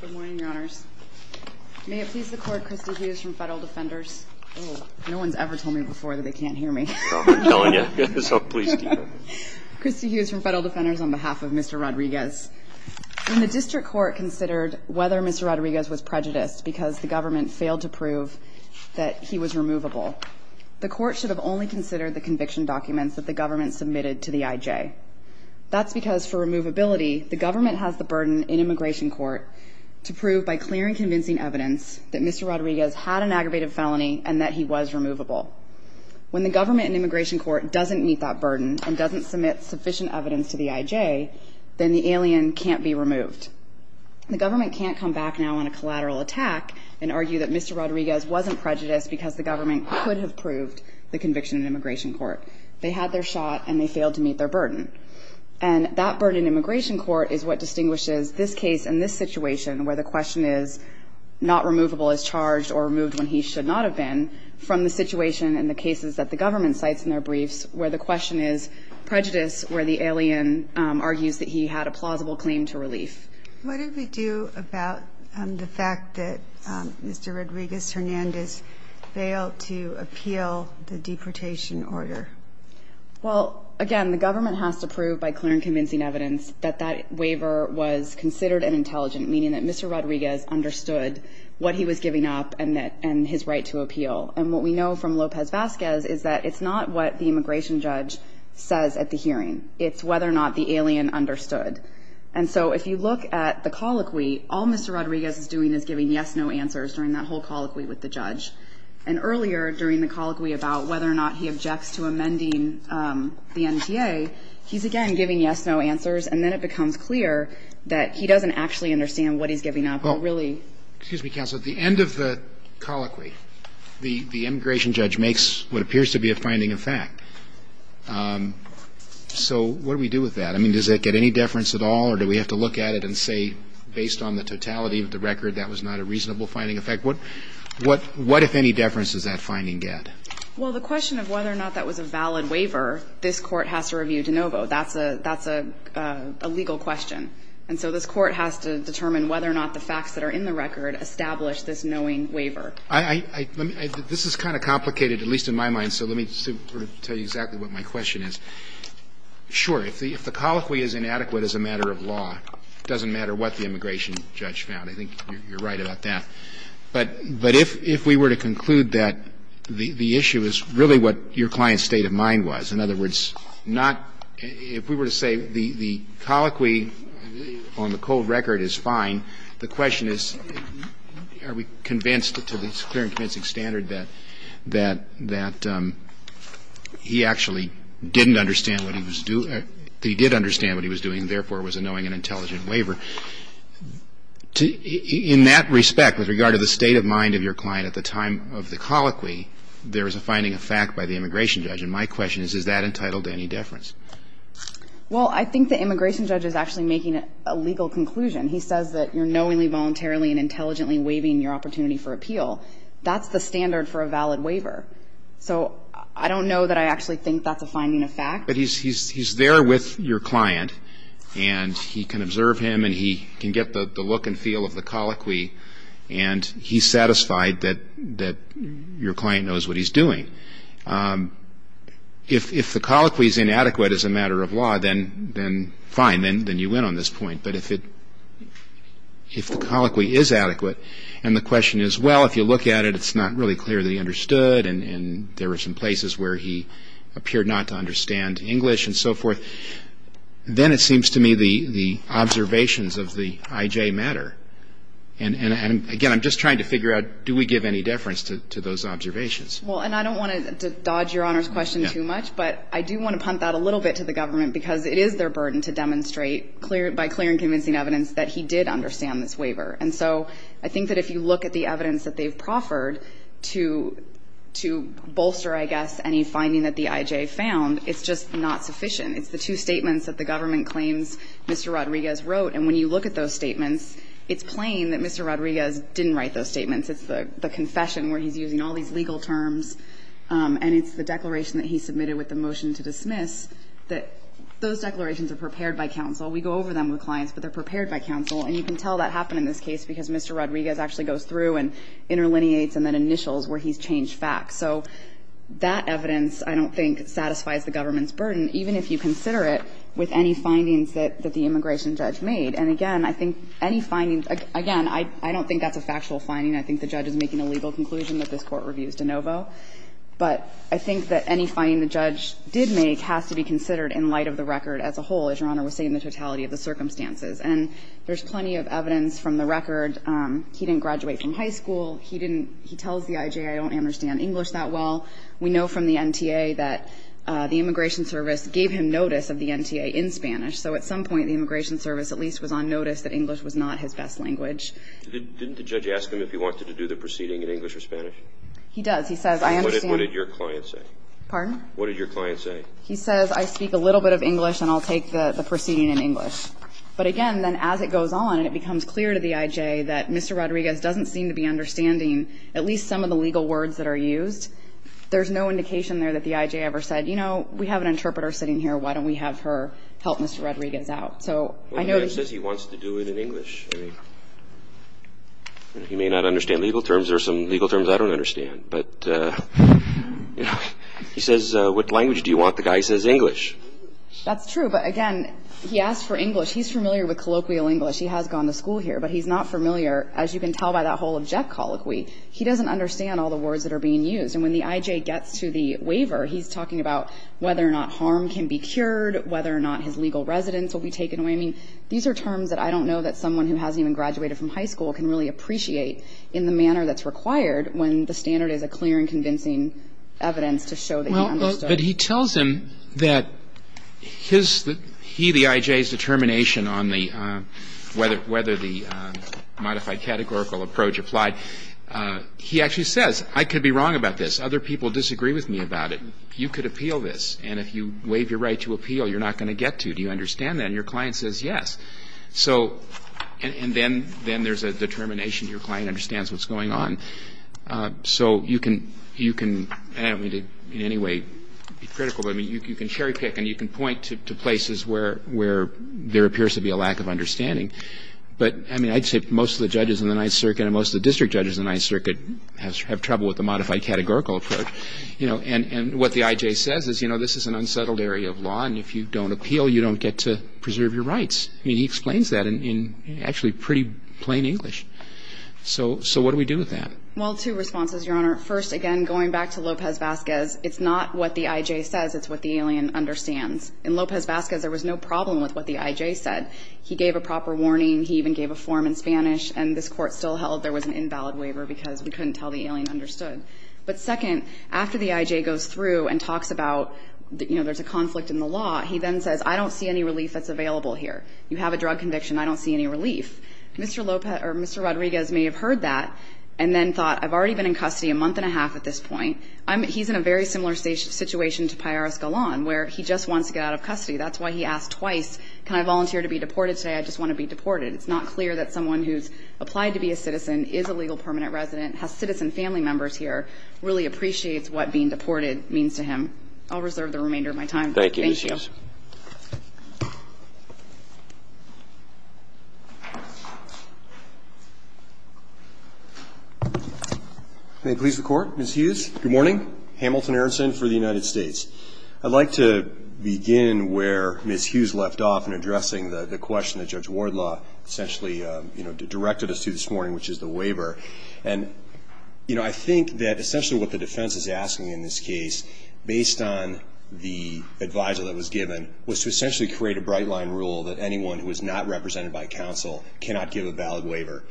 Good morning, Your Honors. May it please the Court, Christy Hughes from Federal Defenders. Oh, no one's ever told me before that they can't hear me. I'm telling you, so please keep it. Christy Hughes from Federal Defenders on behalf of Mr. Rodriguez. When the District Court considered whether Mr. Rodriguez was prejudiced because the government failed to prove that he was removable, the Court should have only considered the conviction documents that the government submitted to the IJ. That's because for removability, the government has the burden in Immigration Court to prove by clear and convincing evidence that Mr. Rodriguez had an aggravated felony and that he was removable. When the government in Immigration Court doesn't meet that burden and doesn't submit sufficient evidence to the IJ, then the alien can't be removed. The government can't come back now on a collateral attack and argue that Mr. Rodriguez wasn't prejudiced because the government could have proved the conviction in Immigration Court. They had their shot and they failed to meet their burden. And that burden in Immigration Court is what distinguishes this case and this situation where the question is not removable as charged or removed when he should not have been from the situation in the cases that the government cites in their briefs where the question is prejudice where the alien argues that he had a plausible claim to relief. What did we do about the fact that Mr. Rodriguez-Hernandez failed to appeal the deportation order? Well, again, the government has to prove by clear and convincing evidence that that waiver was considered an intelligent, meaning that Mr. Rodriguez understood what he was giving up and his right to appeal. And what we know from Lopez-Vasquez is that it's not what the immigration judge says at the hearing. It's whether or not the alien understood. And so if you look at the colloquy, all Mr. Rodriguez is doing is giving yes-no answers during that whole colloquy with the judge. And earlier during the colloquy about whether or not he objects to amending the NTA, he's, again, giving yes-no answers. And then it becomes clear that he doesn't actually understand what he's giving up. Well, excuse me, counsel. At the end of the colloquy, the immigration judge makes what appears to be a finding of fact. So what do we do with that? I mean, does that get any deference at all, or do we have to look at it and say, based on the totality of the record, that was not a reasonable finding of fact? What if any deference does that finding get? Well, the question of whether or not that was a valid waiver, this Court has to review de novo. That's a legal question. And so this Court has to determine whether or not the facts that are in the record establish this knowing waiver. This is kind of complicated, at least in my mind, so let me tell you exactly what my question is. Sure, if the colloquy is inadequate as a matter of law, it doesn't matter what the immigration judge found. I think you're right about that. But if we were to conclude that the issue is really what your client's state of mind was, in other words, not – if we were to say the colloquy on the cold record is fine, the question is, are we convinced to this clear and convincing standard that he actually didn't understand what he was doing – that he did understand what he was doing and therefore was knowing an intelligent waiver? In that respect, with regard to the state of mind of your client at the time of the colloquy, there is a finding of fact by the immigration judge. And my question is, is that entitled to any deference? Well, I think the immigration judge is actually making a legal conclusion. He says that you're knowingly, voluntarily, and intelligently waiving your opportunity for appeal. That's the standard for a valid waiver. So I don't know that I actually think that's a finding of fact. But he's there with your client, and he can observe him, and he can get the look and feel of the colloquy, and he's satisfied that your client knows what he's doing. If the colloquy is inadequate as a matter of law, then fine, then you win on this point. But if the colloquy is adequate, and the question is, well, if you look at it, it's not really clear that he understood, and there were some places where he appeared not to understand English and so forth, then it seems to me the observations of the IJ matter. And, again, I'm just trying to figure out, do we give any deference to those observations? Well, and I don't want to dodge Your Honor's question too much, but I do want to punt that a little bit to the government, because it is their burden to demonstrate by clear and convincing evidence that he did understand this waiver. And so I think that if you look at the evidence that they've proffered to bolster, I guess, any finding that the IJ found, it's just not sufficient. It's the two statements that the government claims Mr. Rodriguez wrote. And when you look at those statements, it's plain that Mr. Rodriguez didn't write those statements. It's the confession where he's using all these legal terms, and it's the declaration that he submitted with the motion to dismiss, that those declarations are prepared by counsel. We go over them with clients, but they're prepared by counsel. And you can tell that happened in this case because Mr. Rodriguez actually goes through and interlineates and then initials where he's changed facts. So that evidence, I don't think, satisfies the government's burden, even if you consider it with any findings that the immigration judge made. And, again, I think any findings – again, I don't think that's a factual finding. I think the judge is making a legal conclusion that this Court reviews de novo. But I think that any finding the judge did make has to be considered in light of the record as a whole, as Your Honor was saying, the totality of the circumstances. And there's plenty of evidence from the record. He didn't graduate from high school. He didn't – he tells the IJ I don't understand English that well. We know from the NTA that the Immigration Service gave him notice of the NTA in Spanish. So at some point the Immigration Service at least was on notice that English was not his best language. Didn't the judge ask him if he wanted to do the proceeding in English or Spanish? He does. He says I understand – What did your client say? Pardon? What did your client say? He says I speak a little bit of English and I'll take the proceeding in English. But, again, then as it goes on and it becomes clear to the IJ that Mr. Rodriguez doesn't seem to be understanding at least some of the legal words that are used, there's no indication there that the IJ ever said, you know, we have an interpreter sitting here. Why don't we have her help Mr. Rodriguez out? So I know – Well, the judge says he wants to do it in English. I mean, he may not understand legal terms. There are some legal terms I don't understand. But he says what language do you want? The guy says English. That's true. But, again, he asked for English. He's familiar with colloquial English. He has gone to school here. But he's not familiar, as you can tell by that whole object colloquy. He doesn't understand all the words that are being used. And when the IJ gets to the waiver, he's talking about whether or not harm can be cured, whether or not his legal residence will be taken away. I mean, these are terms that I don't know that someone who hasn't even graduated from high school can really appreciate in the manner that's required when the standard is a clear and convincing evidence to show that he understood. But he tells him that he, the IJ's determination on whether the modified categorical approach applied, he actually says, I could be wrong about this. Other people disagree with me about it. You could appeal this. And if you waive your right to appeal, you're not going to get to. Do you understand that? And your client says yes. So – and then there's a determination. Your client understands what's going on. So you can – and I don't mean to in any way be critical, but you can cherry pick and you can point to places where there appears to be a lack of understanding. But, I mean, I'd say most of the judges in the Ninth Circuit and most of the district judges in the Ninth Circuit have trouble with the modified categorical approach. And what the IJ says is, you know, this is an unsettled area of law, and if you don't appeal, you don't get to preserve your rights. I mean, he explains that in actually pretty plain English. So what do we do with that? Well, two responses, Your Honor. First, again, going back to Lopez-Vazquez, it's not what the IJ says. It's what the alien understands. In Lopez-Vazquez, there was no problem with what the IJ said. He gave a proper warning. He even gave a form in Spanish. And this Court still held there was an invalid waiver because we couldn't tell the alien understood. But second, after the IJ goes through and talks about, you know, there's a conflict in the law, he then says, I don't see any relief that's available here. You have a drug conviction. I don't see any relief. Mr. Lopez or Mr. Rodriguez may have heard that and then thought, I've already been in custody a month and a half at this point. He's in a very similar situation to Piarras-Gallan, where he just wants to get out of custody. That's why he asked twice, can I volunteer to be deported today? I just want to be deported. It's not clear that someone who's applied to be a citizen is a legal permanent resident, has citizen family members here, really appreciates what being deported means to him. I'll reserve the remainder of my time. Thank you. May it please the Court. Ms. Hughes, good morning. Hamilton Aronson for the United States. I'd like to begin where Ms. Hughes left off in addressing the question that Judge Wardlaw essentially, you know, directed us to this morning, which is the waiver. And, you know, I think that essentially what the defense is asking in this case, based on the adviso that was given, was to essentially create a bright line rule that anyone who is not represented by counsel cannot give a valid waiver.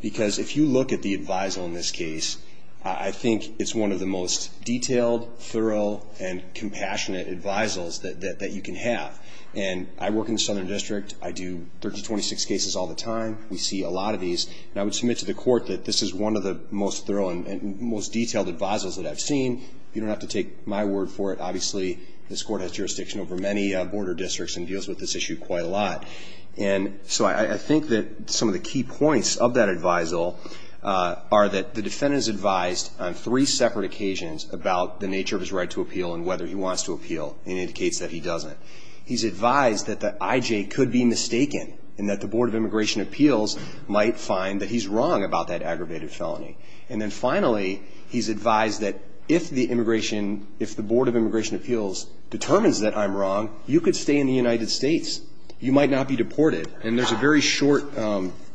Because if you look at the adviso in this case, I think it's one of the most detailed, thorough, and compassionate advisos that you can have. And I work in the Southern District. I do 30 to 26 cases all the time. We see a lot of these. And I would submit to the Court that this is one of the most thorough and most detailed advisos that I've seen. You don't have to take my word for it. Obviously, this Court has jurisdiction over many border districts and deals with this issue quite a lot. And so I think that some of the key points of that adviso are that the defendant is advised on three separate occasions about the nature of his right to appeal and whether he wants to appeal and indicates that he doesn't. He's advised that the IJ could be mistaken and that the Board of Immigration Appeals might find that he's wrong about that aggravated felony. And then finally, he's advised that if the Board of Immigration Appeals determines that I'm wrong, you could stay in the United States. You might not be deported. And there's a very short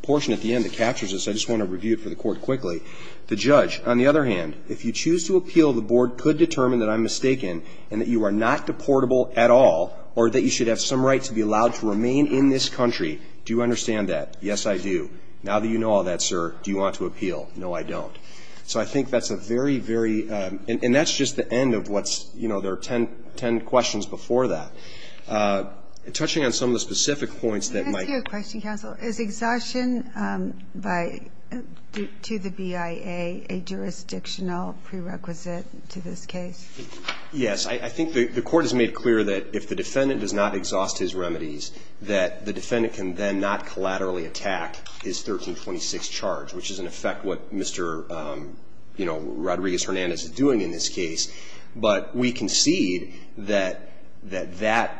portion at the end that captures this. I just want to review it for the Court quickly. The judge, on the other hand, if you choose to appeal, the Board could determine that I'm mistaken and that you are not deportable at all or that you should have some right to be allowed to remain in this country. Do you understand that? Now that you know all that, sir, do you want to appeal? No, I don't. So I think that's a very, very – and that's just the end of what's – you know, there are ten questions before that. Touching on some of the specific points that might – Let me ask you a question, counsel. Is exhaustion by – to the BIA a jurisdictional prerequisite to this case? Yes. I think the Court has made clear that if the defendant does not exhaust his remedies, that the defendant can then not collaterally attack his 1326 charge, which is in effect what Mr. Rodriguez-Hernandez is doing in this case. But we concede that that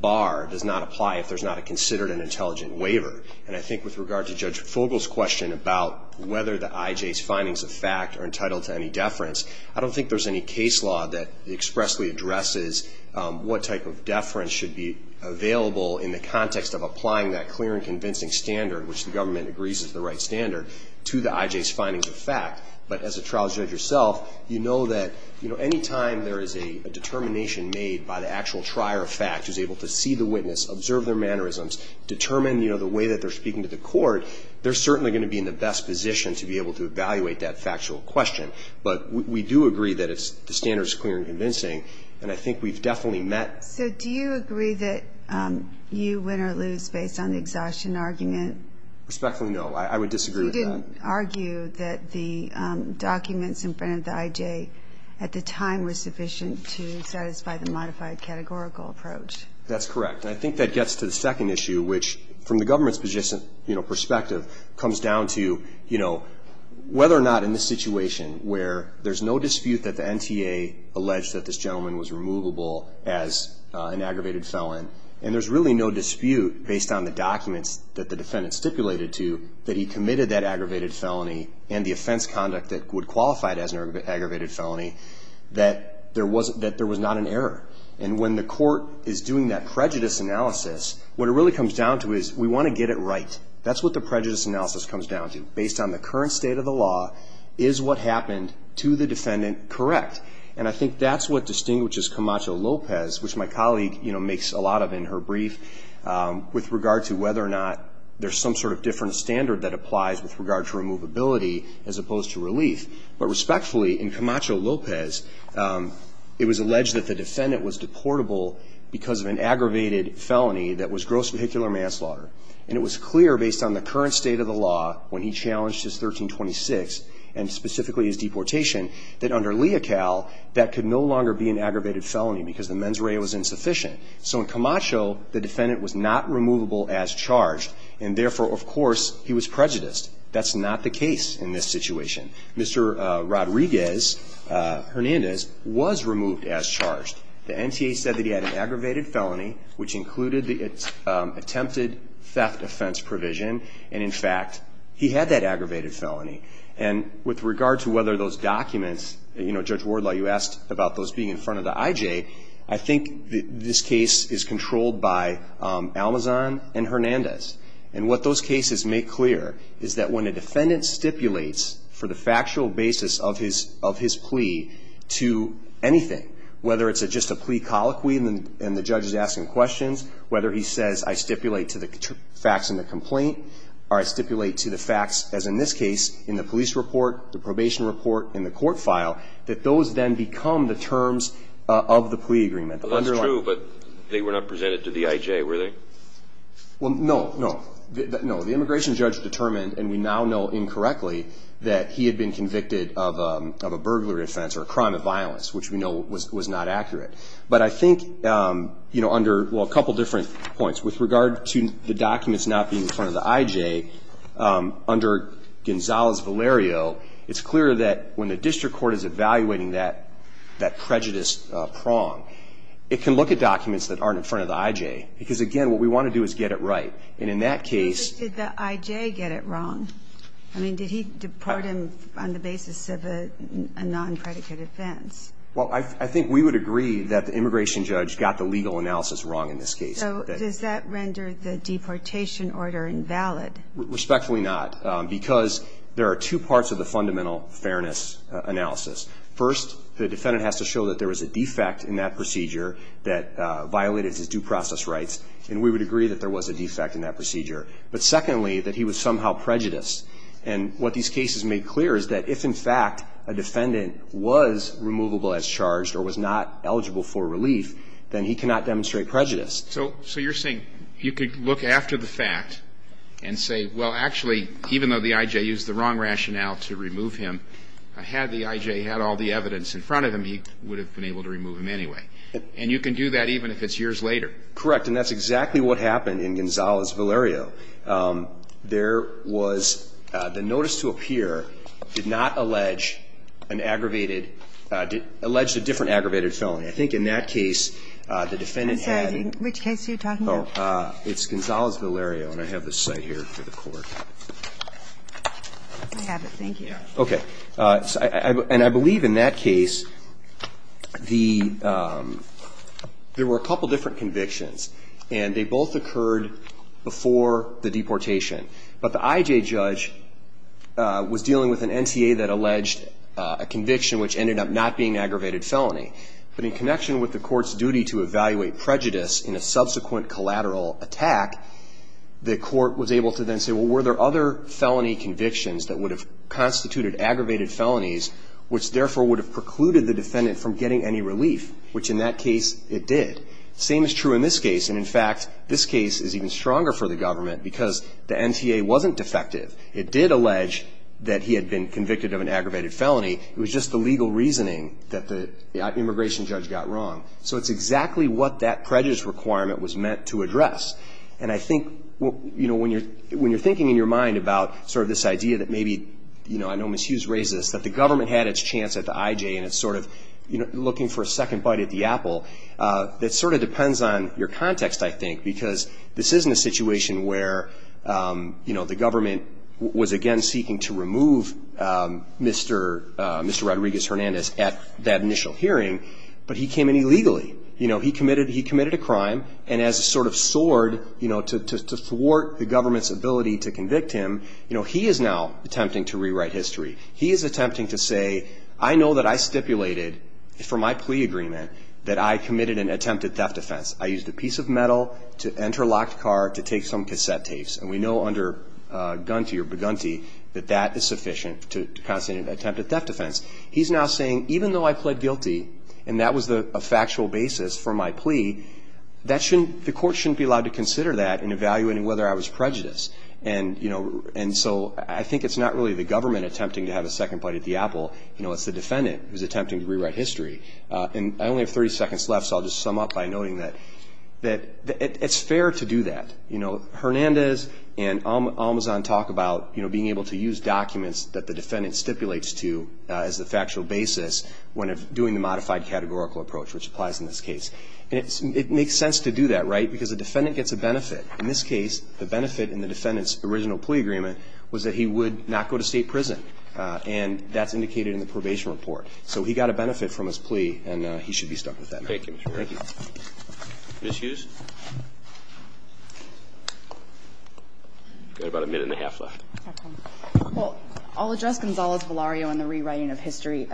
bar does not apply if there's not a considered and intelligent waiver. And I think with regard to Judge Fogle's question about whether the IJ's findings of fact are entitled to any deference, I don't think there's any case law that expressly addresses what type of deference should be available in the context of applying that clear and convincing standard, which the government agrees is the right standard, to the IJ's findings of fact. But as a trial judge yourself, you know that, you know, any time there is a determination made by the actual trier of fact, who's able to see the witness, observe their mannerisms, determine, you know, the way that they're speaking to the court, they're certainly going to be in the best position to be able to evaluate that factual question. But we do agree that the standard is clear and convincing, and I think we've definitely met – So do you agree that you win or lose based on the exhaustion argument? Respectfully, no. I would disagree with that. You didn't argue that the documents in front of the IJ at the time were sufficient to satisfy the modified categorical approach. That's correct, and I think that gets to the second issue, which from the government's perspective comes down to, you know, whether or not in this situation where there's no dispute that the NTA alleged that this gentleman was removable as an aggravated felon, and there's really no dispute based on the documents that the defendant stipulated to that he committed that aggravated felony and the offense conduct that would qualify it as an aggravated felony, that there was not an error. And when the court is doing that prejudice analysis, what it really comes down to is we want to get it right. That's what the prejudice analysis comes down to. Based on the current state of the law, is what happened to the defendant correct? And I think that's what distinguishes Camacho-Lopez, which my colleague makes a lot of in her brief, with regard to whether or not there's some sort of different standard that applies with regard to removability as opposed to relief. But respectfully, in Camacho-Lopez, it was alleged that the defendant was deportable because of an aggravated felony that was gross vehicular manslaughter. And it was clear based on the current state of the law when he challenged his 1326 and specifically his deportation, that under Leocal, that could no longer be an aggravated felony because the mens rea was insufficient. So in Camacho, the defendant was not removable as charged, and therefore, of course, he was prejudiced. That's not the case in this situation. Mr. Rodriguez-Hernandez was removed as charged. The NTA said that he had an aggravated felony, which included the attempted theft offense provision, and in fact, he had that aggravated felony. And with regard to whether those documents, you know, Judge Wardlaw, you asked about those being in front of the IJ, I think this case is controlled by Almazan and Hernandez. And what those cases make clear is that when a defendant stipulates for the factual basis of his plea to anything, whether it's just a plea colloquy and the judge is asking questions, whether he says, I stipulate to the facts in the complaint, or I stipulate to the facts, as in this case, in the police report, the probation report, and the court file, that those then become the terms of the plea agreement. That's true, but they were not presented to the IJ, were they? Well, no, no. No, the immigration judge determined, and we now know incorrectly, that he had been convicted of a burglary offense or a crime of violence, which we know was not accurate. But I think, you know, under, well, a couple different points. With regard to the documents not being in front of the IJ, under Gonzalez-Valerio, it's clear that when the district court is evaluating that prejudice prong, it can look at documents that aren't in front of the IJ. Because, again, what we want to do is get it right. And in that case ---- But did the IJ get it wrong? I mean, did he deport him on the basis of a non-predicate offense? Well, I think we would agree that the immigration judge got the legal analysis wrong in this case. So does that render the deportation order invalid? Respectfully not, because there are two parts of the fundamental fairness analysis. First, the defendant has to show that there was a defect in that procedure that violated his due process rights, and we would agree that there was a defect in that procedure. But, secondly, that he was somehow prejudiced. And what these cases made clear is that if, in fact, a defendant was removable as charged or was not eligible for relief, then he cannot demonstrate prejudice. So you're saying you could look after the fact and say, well, actually, even though the IJ used the wrong rationale to remove him, had the IJ had all the evidence in front of him, he would have been able to remove him anyway. And you can do that even if it's years later. Correct. And that's exactly what happened in Gonzalez-Valerio. There was the notice to appear did not allege an aggravated ---- alleged a different aggravated felony. I think in that case the defendant had ---- Which case are you talking about? It's Gonzalez-Valerio, and I have the site here for the court. I have it. Thank you. Okay. And I believe in that case the ---- there were a couple different convictions, and they both occurred before the deportation. But the IJ judge was dealing with an NTA that alleged a conviction which ended up not being an aggravated felony. But in connection with the court's duty to evaluate prejudice in a subsequent collateral attack, the court was able to then say, well, were there other felony convictions that would have constituted aggravated felonies which, therefore, would have precluded the defendant from getting any relief, which in that case it did. Same is true in this case. And, in fact, this case is even stronger for the government because the NTA wasn't defective. It did allege that he had been convicted of an aggravated felony. It was just the legal reasoning that the immigration judge got wrong. So it's exactly what that prejudice requirement was meant to address. And I think, you know, when you're thinking in your mind about sort of this idea that maybe, you know, I know Ms. Hughes raised this, that the government had its chance at the IJ, and it's sort of looking for a second bite at the apple, that sort of depends on your context, I think, because this isn't a situation where, you know, the government was again seeking to remove Mr. Rodriguez-Hernandez at that initial hearing, but he came in illegally. You know, he committed a crime, and as a sort of sword, you know, to thwart the government's ability to convict him, you know, he is now attempting to rewrite history. He is attempting to say, I know that I stipulated for my plea agreement that I committed an attempted theft offense. I used a piece of metal to enter a locked car to take some cassette tapes. And we know under Gunty or Begunty that that is sufficient to constitute an attempted theft offense. He's now saying, even though I pled guilty, and that was a factual basis for my plea, the court shouldn't be allowed to consider that in evaluating whether I was prejudiced. And, you know, so I think it's not really the government attempting to have a second bite at the apple. You know, it's the defendant who's attempting to rewrite history. And I only have 30 seconds left, so I'll just sum up by noting that it's fair to do that. You know, Hernandez and Almazan talk about, you know, being able to use documents that the defendant stipulates to as a factual basis when doing the modified categorical approach, which applies in this case. And it makes sense to do that, right, because the defendant gets a benefit. In this case, the benefit in the defendant's original plea agreement was that he would not go to state prison. And that's indicated in the probation report. So he got a benefit from his plea, and he should be stuck with that. Thank you, Mr. Wright. Thank you. Ms. Hughes? You've got about a minute and a half left. Well, I'll address Gonzales-Velario and the rewriting of history.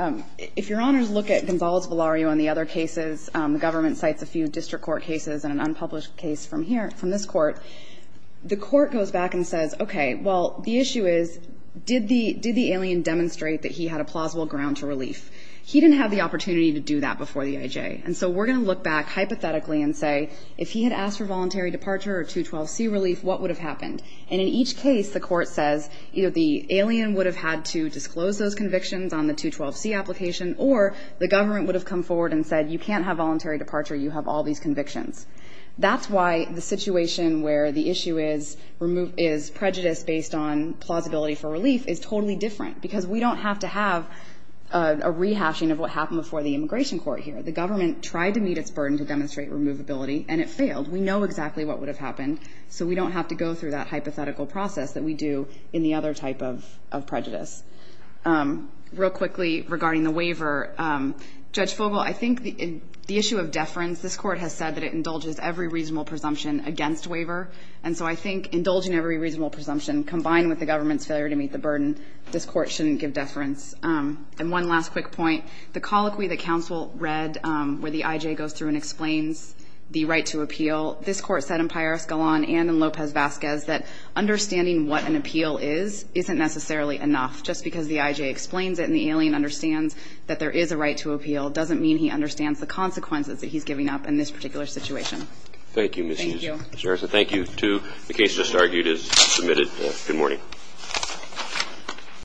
If Your Honors look at Gonzales-Velario and the other cases, the government cites a few district court cases and an unpublished case from here, from this Court, the Court goes back and says, okay, well, the issue is, did the alien demonstrate that he had a plausible ground to relief? He didn't have the opportunity to do that before the IJ. And so we're going to look back hypothetically and say, if he had asked for voluntary departure or 212C relief, what would have happened? And in each case, the Court says, either the alien would have had to disclose those convictions on the 212C application, or the government would have come forward and said, you can't have voluntary departure, you have all these convictions. That's why the situation where the issue is prejudice based on plausibility for relief is totally different, because we don't have to have a rehashing of what happened before the immigration court here. The government tried to meet its burden to demonstrate removability, and it failed. We know exactly what would have happened, so we don't have to go through that hypothetical process that we do in the other type of prejudice. Real quickly, regarding the waiver, Judge Fogel, I think the issue of deference, this Court has said that it indulges every reasonable presumption against waiver. And so I think indulging every reasonable presumption, combined with the government's failure to meet the burden, this Court shouldn't give deference. And one last quick point. The colloquy that counsel read, where the I.J. goes through and explains the right to appeal, this Court said in Paris Galan and in Lopez-Vazquez that understanding what an appeal is isn't necessarily enough. Just because the I.J. explains it and the alien understands that there is a right to appeal doesn't mean he understands the consequences that he's giving up in this particular situation. Thank you, Ms. Hughes. Thank you. Mr. Harrison, thank you, too. The case just argued is submitted. Good morning.